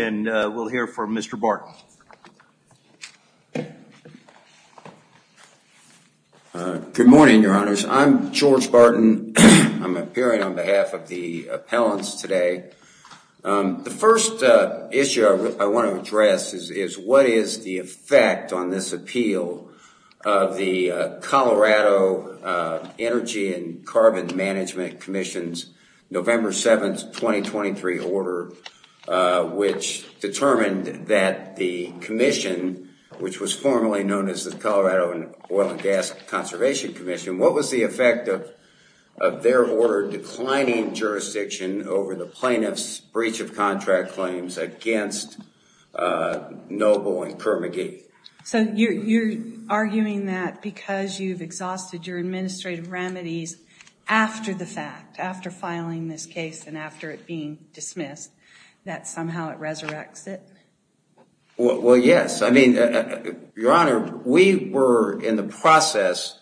and we'll hear from Mr. Barton. Good morning, your honors. I'm George Barton. I'm appearing on behalf of the appellants today. The first issue I want to address is what is the effect on this appeal of the Colorado Energy and Carbon Management Commission's November 7, 2023 order, which determined that the commission, which was formerly known as the Colorado Oil and Gas Conservation Commission, what was the effect of their order declining jurisdiction over the plaintiff's breach of contract claims against Noble and Kermagee? So you're arguing that because you've exhausted your administrative remedies after the fact, after filing this case and after it being dismissed, that somehow it resurrects it? Well, yes. I mean, your honor, we were in the process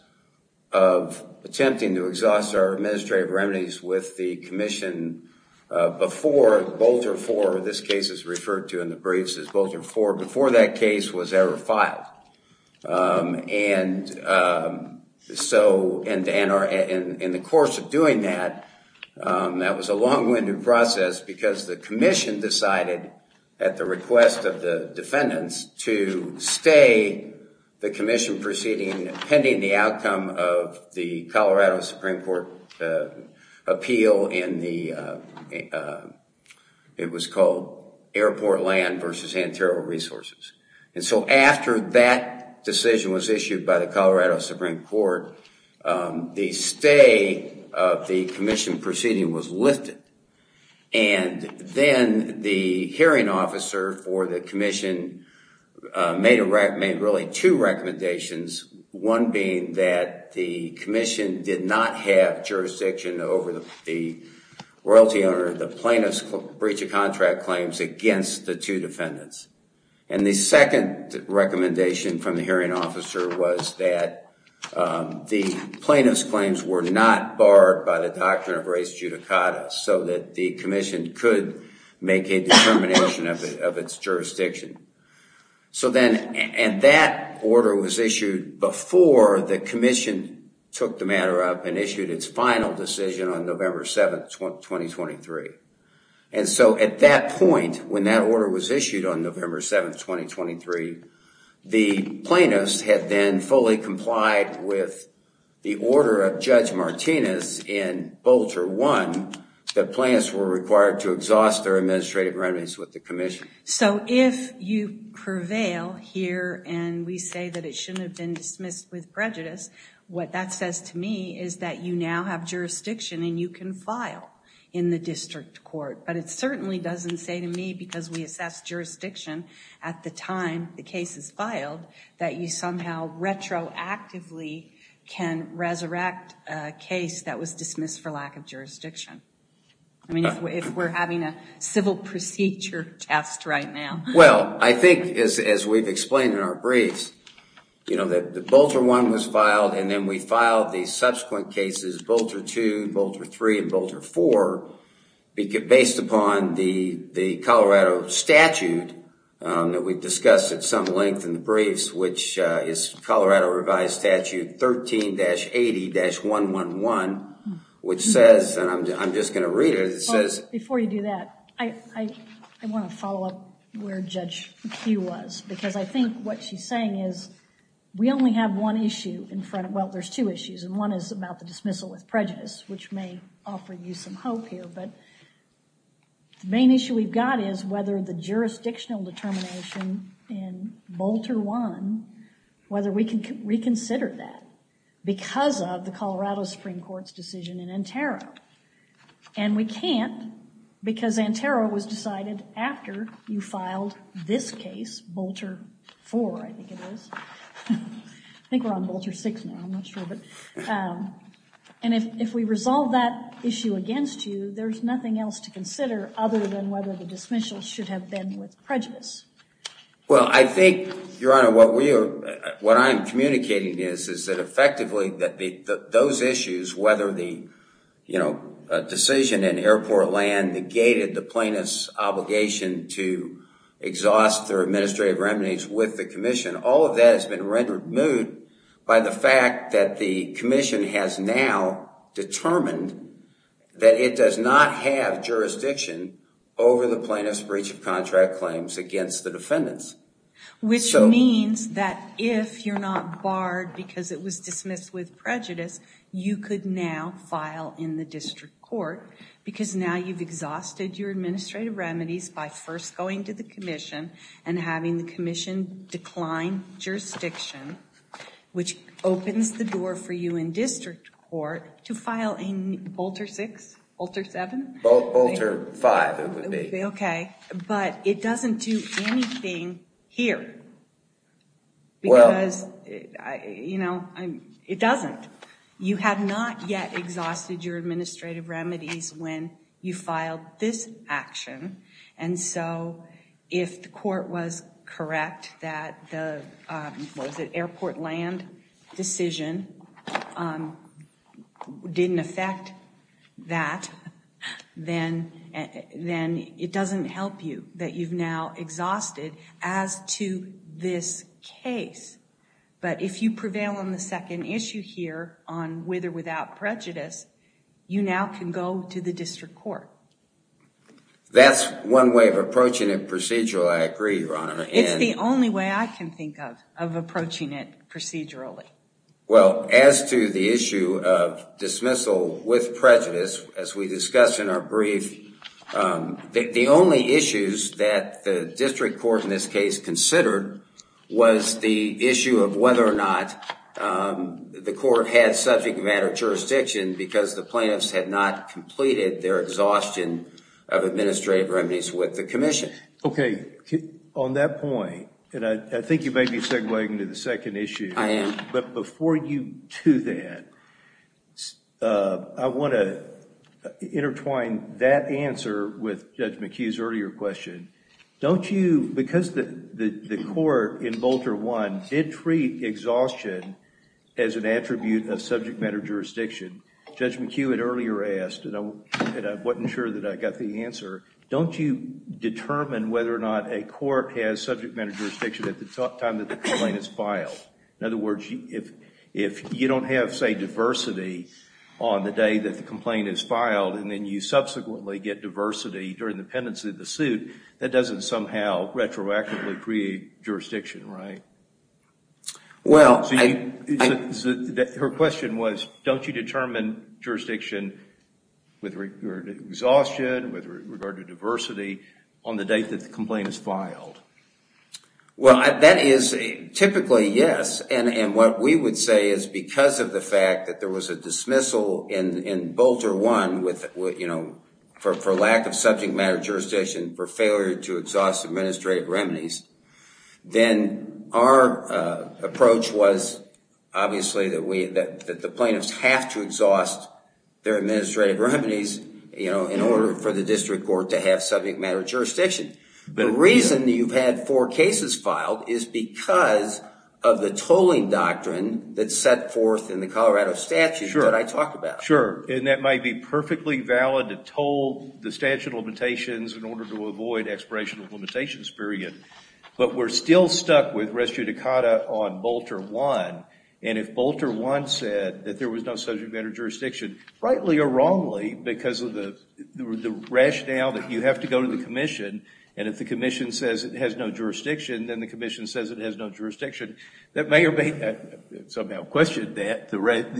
of attempting to exhaust our administrative remedies with the commission before Boulter 4, this case is referred to in the briefs as Boulter 4, before that case was ever filed. And so in the course of doing that, that was a long-winded process because the commission decided, at the request of the defendants, to stay the commission proceeding pending the outcome of the Colorado Supreme Court appeal in the, it was called Airport Land versus Antero Resources. And so after that decision was issued by the Colorado Supreme Court, the stay of the commission proceeding was lifted. And then the hearing officer for the commission made really two recommendations, one being that the commission did not have jurisdiction over the royalty owner, the plaintiff's breach of contract claims against the two defendants. And the second recommendation from the hearing officer was that the plaintiff's claims were not barred by the doctrine of res judicata, so that the commission could make a determination of its jurisdiction. So then, and that order was issued before the commission took the matter up and issued its final decision on November 7, 2023. And so at that point, when that order was issued on November 7, 2023, the plaintiffs had then fully complied with the order of Judge Martinez in Boulter 1, that plaintiffs were required to exhaust their administrative remedies with the commission. So if you prevail here and we say that it shouldn't have been dismissed with prejudice, what that says to me is that you now have jurisdiction and you can file in the district court. But it certainly doesn't say to me, because we assess jurisdiction at the time the case is filed, that you somehow retroactively can resurrect a case that was dismissed for lack of jurisdiction. I mean, if we're having a civil procedure test right now. Well, I think as we've explained in our briefs, you know, that the Boulter 1 was filed and then we filed the subsequent cases, Boulter 2, Boulter 3, and Boulter 4, based upon the Colorado statute that we've discussed at some length in the briefs, which is Colorado Revised Statute 13-80-111, which says, and I'm just going to read it. Before you do that, I want to follow up where Judge Kueh was, because I think what she's saying is we only have one issue in front of, well, there's two issues, and one is about the dismissal with prejudice, which may offer you some hope here. But the main issue we've got is whether the jurisdictional determination in Boulter 1, whether we can reconsider that because of the Colorado Supreme Court's decision in Entero. And we can't because Entero was decided after you filed this case, Boulter 4, I think it is. I think we're on Boulter 6 now. I'm not sure. And if we resolve that issue against you, there's nothing else to consider other than whether the dismissal should have been with prejudice. Well, I think, Your Honor, what we are, what I'm communicating is, is that effectively those issues, whether the decision in airport land negated the plaintiff's obligation to exhaust their administrative remedies with the commission, all of that has been rendered moot by the fact that the commission has now determined that it does not have jurisdiction over the plaintiff's breach of contract claims against the defendants. Which means that if you're not barred because it was dismissed with prejudice, you could now file in the district court because now you've exhausted your administrative remedies by first going to the commission and having the commission decline jurisdiction, which opens the door for you in district court to file in Boulter 6, Boulter 7? Boulter 5, it would be. Okay. But it doesn't do anything here. Because, you know, it doesn't. You have not yet exhausted your administrative remedies when you filed this action. And so if the court was correct that the airport land decision didn't affect that, then it doesn't help you that you've now exhausted as to this case. But if you prevail on the second issue here on with or without prejudice, you now can go to the district court. That's one way of approaching it procedurally. I agree, Your Honor. It's the only way I can think of, of approaching it procedurally. Well, as to the issue of dismissal with prejudice, as we discussed in our brief, the only issues that the district court in this case considered was the issue of whether or not the court had subject matter jurisdiction because the plaintiffs had not completed their exhaustion of administrative remedies with the commission. Okay. Judge McHugh, on that point, and I think you may be segwaying to the second issue, but before you do that, I want to intertwine that answer with Judge McHugh's earlier question. Don't you, because the court in Bolter 1 did treat exhaustion as an attribute of subject matter jurisdiction, Judge McHugh had earlier asked, and I wasn't sure that I got the answer, don't you determine whether or not a court has subject matter jurisdiction at the time that the complaint is filed? In other words, if you don't have, say, diversity on the day that the complaint is filed and then you subsequently get diversity during the pendency of the suit, that doesn't somehow retroactively create jurisdiction, right? Well, I... Her question was, don't you determine jurisdiction with regard to exhaustion, with regard to diversity on the date that the complaint is filed? Well, that is typically yes, and what we would say is because of the fact that there was a dismissal in Bolter 1 for lack of subject matter jurisdiction for failure to exhaust administrative remedies, then our approach was obviously that the plaintiffs have to exhaust their administrative remedies in order for the district court to have subject matter jurisdiction. The reason that you've had four cases filed is because of the tolling doctrine that's set forth in the Colorado statute that I talked about. Sure, and that might be perfectly valid to toll the statute of limitations in order to avoid expiration of limitations period, but we're still stuck with res judicata on Bolter 1, and if Bolter 1 said that there was no subject matter jurisdiction, rightly or wrongly because of the rationale that you have to go to the commission, and if the commission says it has no jurisdiction, then the commission says it has no jurisdiction, that may or may not somehow question that,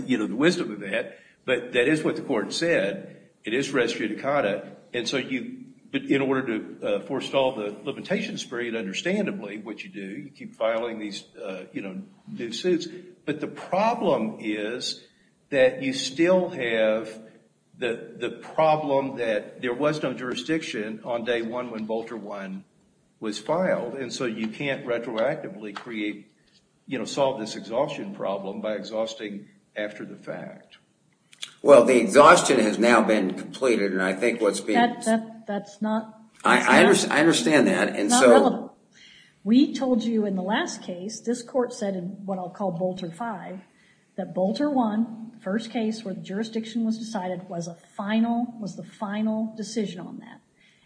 you know, the wisdom of that, but that is what the court said. It is res judicata, but in order to forestall the limitation period, understandably what you do, you keep filing these new suits, but the problem is that you still have the problem that there was no jurisdiction on day one when Bolter 1 was filed, and so you can't retroactively solve this exhaustion problem by exhausting after the fact. Well, the exhaustion has now been completed, and I think what's being... That's not... I understand that, and so... Not relevant. We told you in the last case, this court said in what I'll call Bolter 5, that Bolter 1, the first case where the jurisdiction was decided, was the final decision on that,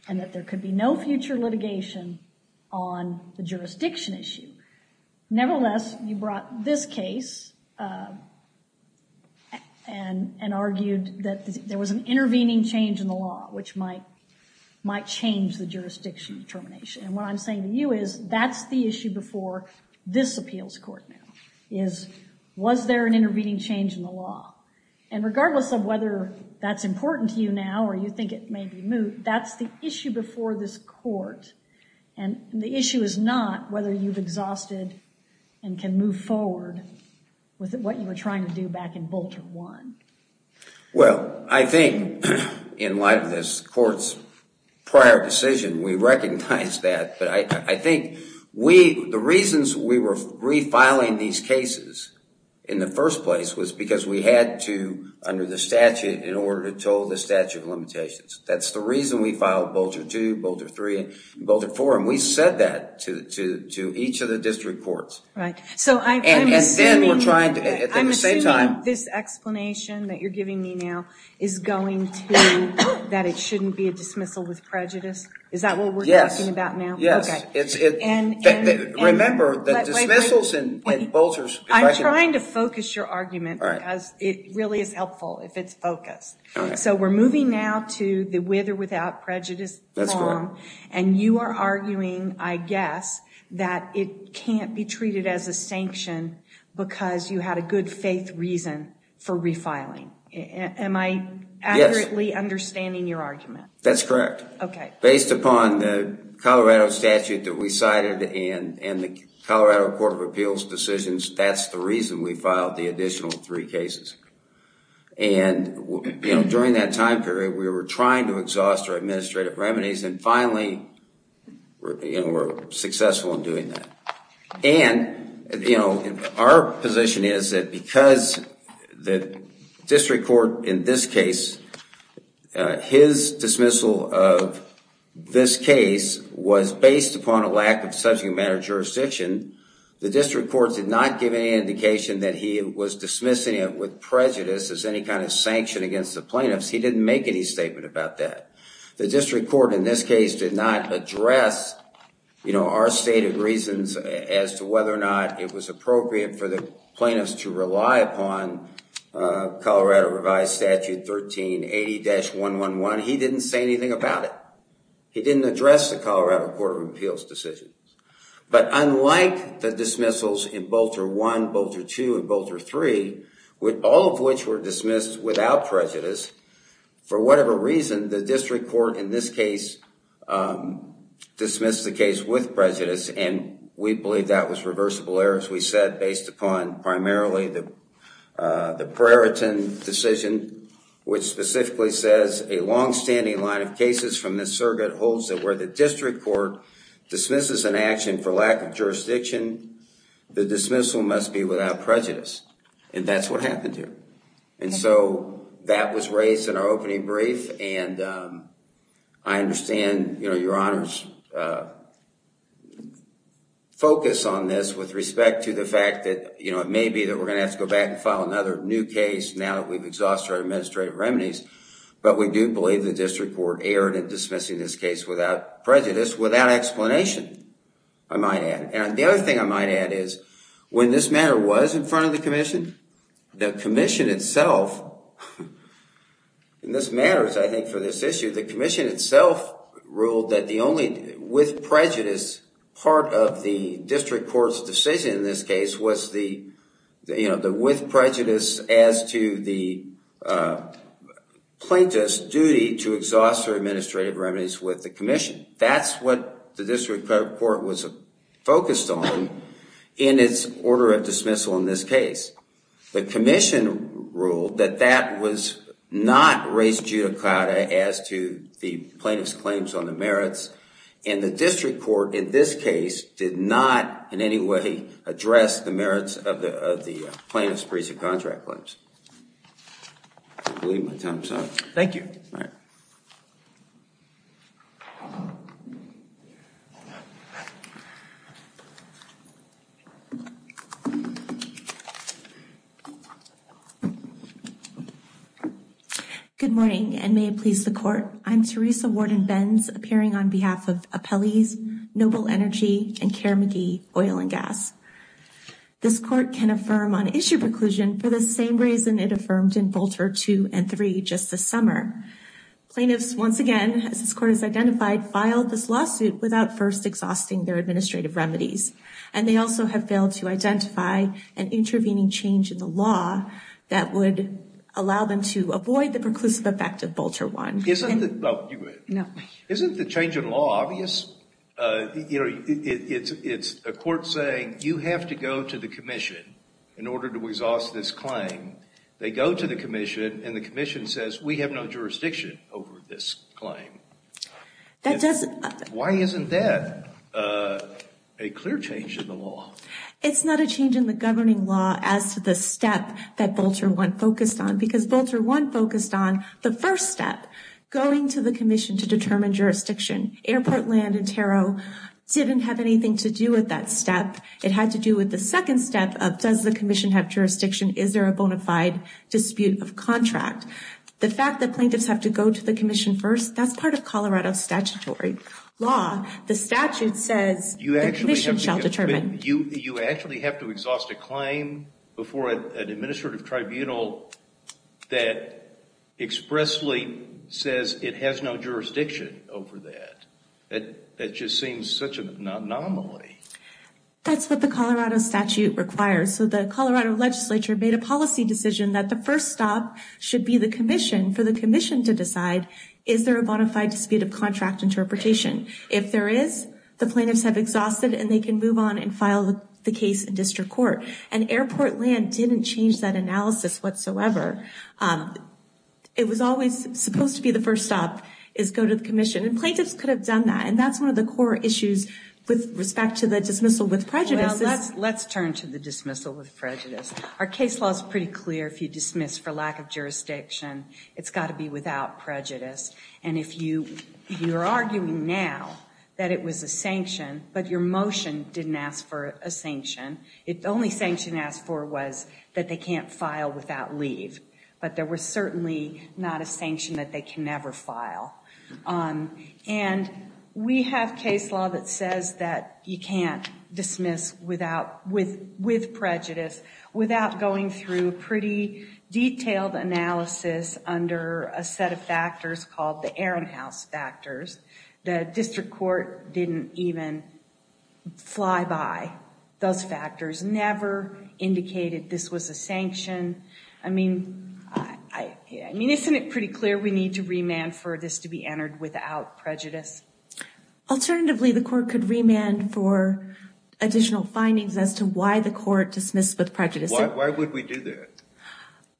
and that there could be no future litigation on the jurisdiction issue. Nevertheless, you brought this case and argued that there was an intervening change in the law, which might change the jurisdiction determination, and what I'm saying to you is that's the issue before this appeals court now, is was there an intervening change in the law, and regardless of whether that's important to you now or you think it may be moot, that's the issue before this court, and the issue is not whether you've exhausted and can move forward with what you were trying to do back in Bolter 1. Well, I think in light of this court's prior decision, we recognize that, but I think we... The reasons we were refiling these cases in the first place was because we had to, under the statute, in order to toe the statute of limitations. That's the reason we filed Bolter 2, Bolter 3, and Bolter 4, and we said that to each of the district courts, and then we're trying to... I'm assuming this explanation that you're giving me now is going to that it shouldn't be a dismissal with prejudice. Is that what we're talking about now? Yes. Remember, the dismissals in Bolter... I'm trying to focus your argument because it really is helpful if it's focused. So we're moving now to the with or without prejudice form, and you are arguing, I guess, that it can't be treated as a sanction because you had a good faith reason for refiling. Am I accurately understanding your argument? That's correct. Okay. Based upon the Colorado statute that we cited and the Colorado Court of Appeals decisions, that's the reason we filed the additional three cases. And during that time period, we were trying to exhaust our administrative remedies, and finally we're successful in doing that. And our position is that because the district court in this case, his dismissal of this case was based upon a lack of subject matter jurisdiction, the district court did not give any indication that he was dismissing it with prejudice as any kind of sanction against the plaintiffs. He didn't make any statement about that. The district court in this case did not address our stated reasons as to whether or not it was appropriate for the plaintiffs to rely upon Colorado revised statute 1380-111. He didn't say anything about it. He didn't address the Colorado Court of Appeals decisions. But unlike the dismissals in Bolter I, Bolter II, and Bolter III, all of which were dismissed without prejudice, for whatever reason, the district court in this case dismissed the case with prejudice, and we believe that was reversible error, as we said, based upon primarily the Preriton decision, which specifically says, a long-standing line of cases from this circuit holds that where the district court dismisses an action for lack of jurisdiction, the dismissal must be without prejudice, and that's what happened here. And so that was raised in our opening brief, and I understand your Honor's focus on this with respect to the fact that it may be that we're going to have to go back and file another new case now that we've exhausted our administrative remedies, but we do believe the district court erred in dismissing this case without prejudice, without explanation, I might add. And the other thing I might add is, when this matter was in front of the Commission, the Commission itself, and this matters, I think, for this issue, the Commission itself ruled that the only with prejudice part of the district court's decision in this case was the with prejudice as to the plaintiff's duty to exhaust their administrative remedies with the Commission. That's what the district court was focused on in its order of dismissal in this case. The Commission ruled that that was not res judicata as to the plaintiff's claims on the merits, and the district court in this case did not in any way address the merits of the plaintiff's appraisal contract claims. I believe my time is up. Thank you. All right. Good morning, and may it please the Court. I'm Teresa Warden-Benz, appearing on behalf of This Court can affirm on issue preclusion for the same reason it affirmed in Bolter 2 and 3 just this summer. Plaintiffs, once again, as this Court has identified, filed this lawsuit without first exhausting their administrative remedies, and they also have failed to identify an intervening change in the law that would allow them to avoid the preclusive effect of Bolter 1. Isn't the change in law obvious? It's a court saying, you have to go to the Commission in order to exhaust this claim. They go to the Commission, and the Commission says, we have no jurisdiction over this claim. Why isn't that a clear change in the law? It's not a change in the governing law as to the step that Bolter 1 focused on, because Bolter 1 focused on the first step, going to the Commission to determine jurisdiction. Airport Land and Tarot didn't have anything to do with that step. It had to do with the second step of, does the Commission have jurisdiction? Is there a bona fide dispute of contract? The fact that plaintiffs have to go to the Commission first, that's part of Colorado statutory law. The statute says the Commission shall determine. You actually have to exhaust a claim before an administrative tribunal that expressly says it has no jurisdiction over that. That just seems such an anomaly. That's what the Colorado statute requires. The Colorado legislature made a policy decision that the first stop should be the Commission for the Commission to decide, is there a bona fide dispute of contract interpretation? If there is, the plaintiffs have exhausted, and they can move on and file the case in district court. Airport Land didn't change that analysis whatsoever. It was always supposed to be the first stop, is go to the Commission. Plaintiffs could have done that, and that's one of the core issues with respect to the dismissal with prejudice. Let's turn to the dismissal with prejudice. Our case law is pretty clear. If you dismiss for lack of jurisdiction, it's got to be without prejudice. If you're arguing now that it was a sanction, but your motion didn't ask for a sanction, the only sanction asked for was that they can't file without leave. But there was certainly not a sanction that they can never file. And we have case law that says that you can't dismiss with prejudice without going through a pretty detailed analysis under a set of factors called the Ehrenhaus factors. The district court didn't even fly by those factors, never indicated this was a sanction. I mean, isn't it pretty clear we need to remand for this to be entered without prejudice? Alternatively, the court could remand for additional findings as to why the court dismissed with prejudice. Why would we do that?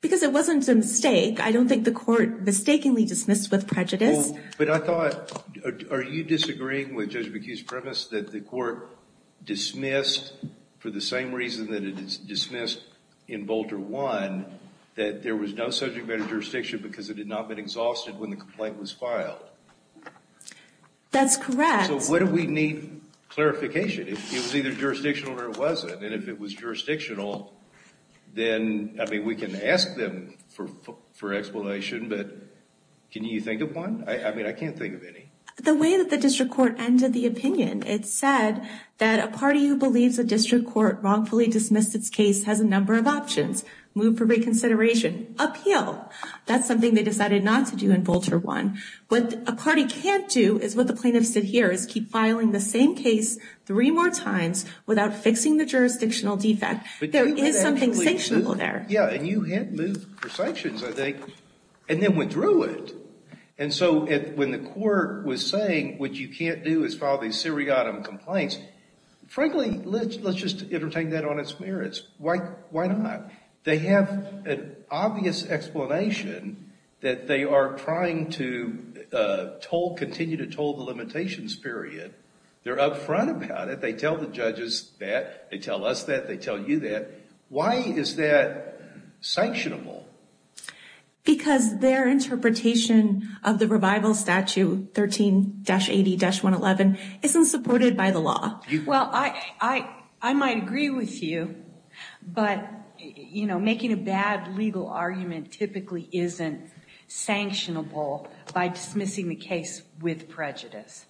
Because it wasn't a mistake. I don't think the court mistakenly dismissed with prejudice. But I thought, are you disagreeing with Judge McHugh's premise that the court dismissed for the same reason that it dismissed in Bolter 1 that there was no subject matter jurisdiction because it had not been exhausted when the complaint was filed? That's correct. So why do we need clarification? It was either jurisdictional or it wasn't. And if it was jurisdictional, then, I mean, we can ask them for explanation, but can you think of one? I mean, I can't think of any. The way that the district court ended the opinion, it said that a party who believes a district court wrongfully dismissed its case has a number of options. Move for reconsideration. Appeal. That's something they decided not to do in Bolter 1. What a party can't do is what the plaintiffs did here is keep filing the same case three more times without fixing the jurisdictional defect. There is something sanctionable there. Yeah, and you had moved for sanctions, I think, and then went through it. And so when the court was saying what you can't do is file these seriatim complaints, frankly, let's just entertain that on its merits. Why not? They have an obvious explanation that they are trying to continue to toll the limitations period. They're up front about it. They tell the judges that. They tell us that. They tell you that. Why is that sanctionable? Because their interpretation of the revival statute 13-80-111 isn't supported by the law. Well, I might agree with you, but making a bad legal argument typically isn't sanctionable by dismissing the case with prejudice.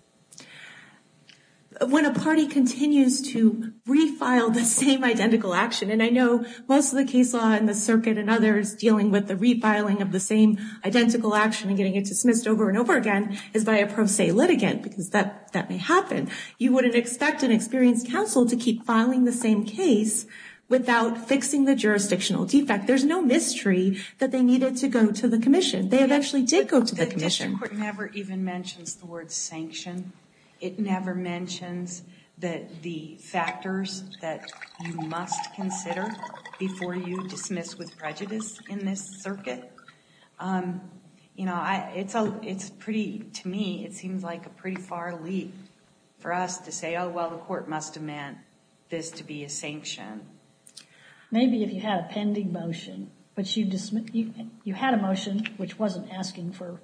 When a party continues to refile the same identical action, and I know most of the case law in the circuit and others dealing with the refiling of the same identical action and getting it dismissed over and over again is by a pro se litigant, because that may happen. You wouldn't expect an experienced counsel to keep filing the same case without fixing the jurisdictional defect. There's no mystery that they needed to go to the commission. They eventually did go to the commission. The district court never even mentions the word sanction. It never mentions the factors that you must consider before you dismiss with prejudice in this circuit. To me, it seems like a pretty far leap for us to say, oh, well, the court must have meant this to be a sanction. Maybe if you had a pending motion, but you had a motion which wasn't asking for,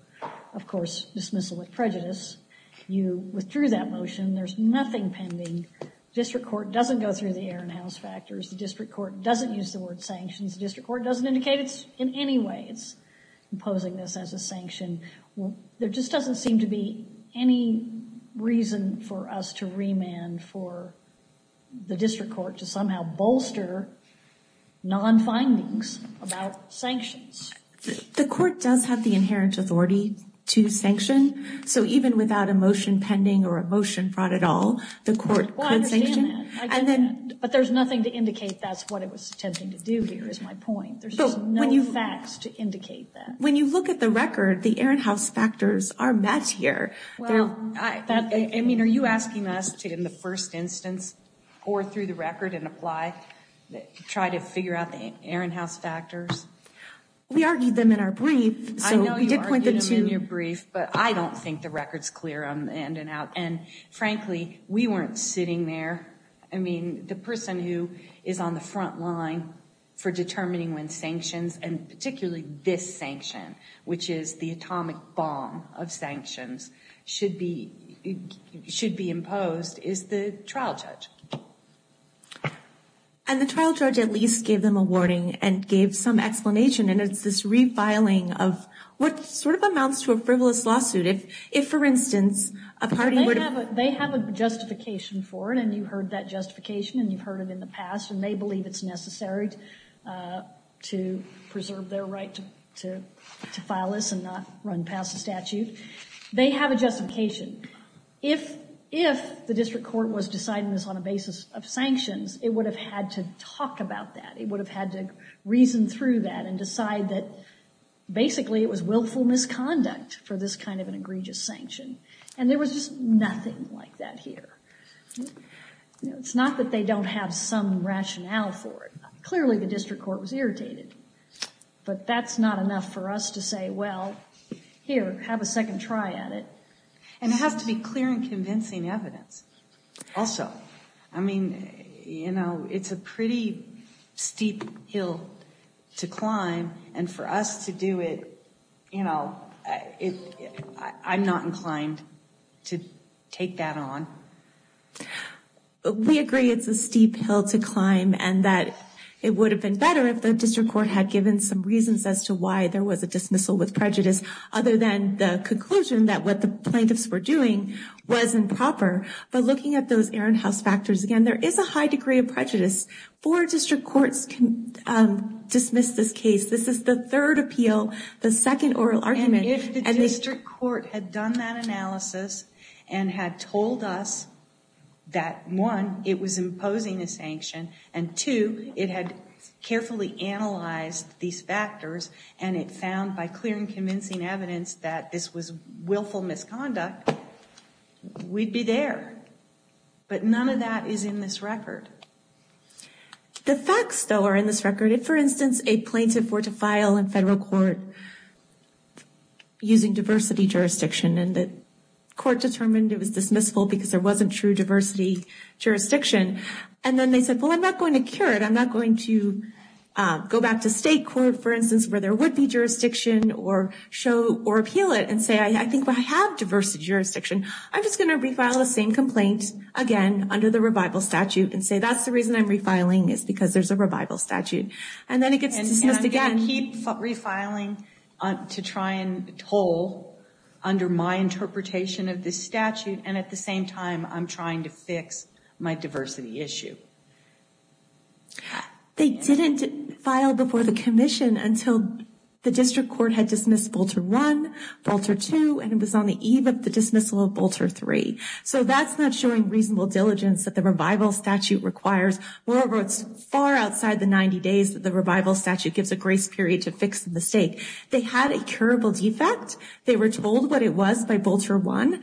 of course, dismissal with prejudice. You withdrew that motion. There's nothing pending. The district court doesn't go through the Aaron House factors. The district court doesn't use the word sanctions. The district court doesn't indicate in any way it's imposing this as a sanction. There just doesn't seem to be any reason for us to remand for the district court to somehow bolster non-findings about sanctions. The court does have the inherent authority to sanction, so even without a motion pending or a motion brought at all, the court could sanction. But there's nothing to indicate that's what it was attempting to do here is my point. There's just no facts to indicate that. When you look at the record, the Aaron House factors are met here. Are you asking us to, in the first instance, or through the record and apply, try to figure out the Aaron House factors? We argued them in our brief. I know you argued them in your brief, but I don't think the record's clear on the in and out. Frankly, we weren't sitting there. I mean, the person who is on the front line for determining when sanctions, and particularly this sanction, which is the atomic bomb of sanctions, should be imposed is the trial judge. And the trial judge at least gave them a warning and gave some explanation, and it's this refiling of what sort of amounts to a frivolous lawsuit. If, for instance, a party would have... They have a justification for it, and you've heard that justification, and you've heard it in the past, and they believe it's necessary to preserve their right to file this and not run past a statute. They have a justification. If the district court was deciding this on a basis of sanctions, it would have had to talk about that. It would have had to reason through that and decide that basically it was willful misconduct for this kind of an egregious sanction. And there was just nothing like that here. It's not that they don't have some rationale for it. Clearly, the district court was irritated, but that's not enough for us to say, well, here, have a second try at it. And it has to be clear and convincing evidence also. I mean, you know, it's a pretty steep hill to climb, and for us to do it, you know, I'm not inclined to take that on. We agree it's a steep hill to climb and that it would have been better if the district court had given some reasons as to why there was a dismissal with prejudice, other than the conclusion that what the plaintiffs were doing wasn't proper. But looking at those Erin House factors again, there is a high degree of prejudice. Four district courts can dismiss this case. This is the third appeal, the second oral argument. And if the district court had done that analysis and had told us that, one, it was imposing a sanction, and two, it had carefully analyzed these factors and it found by clear and convincing evidence that this was willful misconduct, we'd be there. But none of that is in this record. The facts, though, are in this record. If, for instance, a plaintiff were to file in federal court using diversity jurisdiction and the court determined it was dismissal because there wasn't true diversity jurisdiction, and then they said, well, I'm not going to cure it, I'm not going to go back to state court, for instance, where there would be jurisdiction, or appeal it and say, I think I have diversity jurisdiction, I'm just going to refile the same complaint, again, under the revival statute, and say that's the reason I'm refiling is because there's a revival statute. And then it gets dismissed again. And again, keep refiling to try and toll under my interpretation of this statute, and at the same time, I'm trying to fix my diversity issue. They didn't file before the commission until the district court had dismissed Bolter I, Bolter II, and it was on the eve of the dismissal of Bolter III. So that's not showing reasonable diligence that the revival statute requires. Moreover, it's far outside the 90 days that the revival statute gives a grace period to fix the mistake. They had a curable defect. They were told what it was by Bolter I,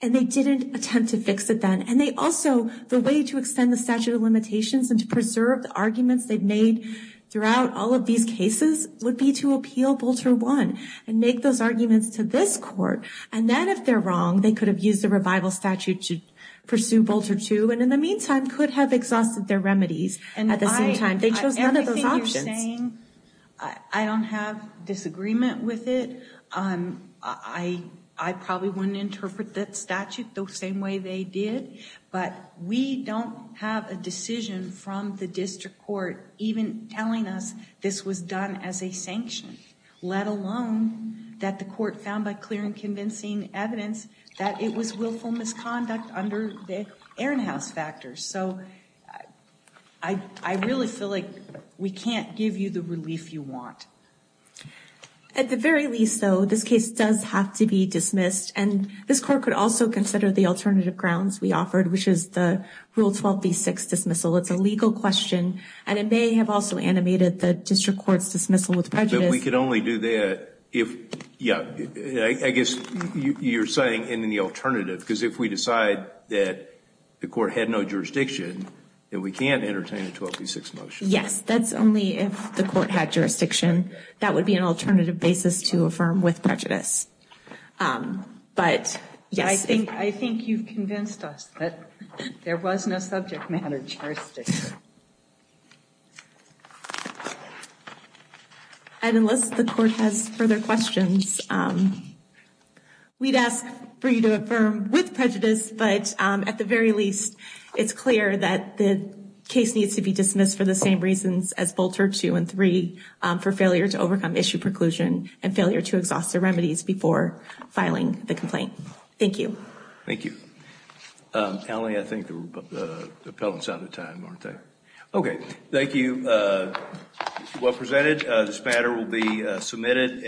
and they didn't attempt to fix it then. And they also, the way to extend the statute of limitations and to preserve the arguments they've made throughout all of these cases would be to appeal Bolter I and make those arguments to this court. And then if they're wrong, they could have used the revival statute to pursue Bolter II, and in the meantime, could have exhausted their remedies at the same time. They chose none of those options. Everything you're saying, I don't have disagreement with it. I probably wouldn't interpret that statute the same way they did, but we don't have a decision from the district court even telling us this was done as a sanction, let alone that the court found by clear and convincing evidence that it was willful misconduct under the Ehrenhaus factors. So I really feel like we can't give you the relief you want. At the very least, though, this case does have to be dismissed, and this court could also consider the alternative grounds we offered, which is the Rule 12b-6 dismissal. It's a legal question, and it may have also animated the district court's dismissal with prejudice. But we could only do that if, yeah, I guess you're saying in the alternative, because if we decide that the court had no jurisdiction, then we can't entertain a 12b-6 motion. Yes, that's only if the court had jurisdiction. That would be an alternative basis to affirm with prejudice. I think you've convinced us that there was no subject matter jurisdiction. And unless the court has further questions, we'd ask for you to affirm with prejudice, but at the very least, it's clear that the case needs to be dismissed for the same reasons as Bolter 2 and 3, for failure to overcome issue preclusion and failure to exhaust the remedies before filing the complaint. Thank you. Thank you. Allie, I think the appellant's out of time, aren't they? Okay, thank you. Well presented. This matter will be submitted.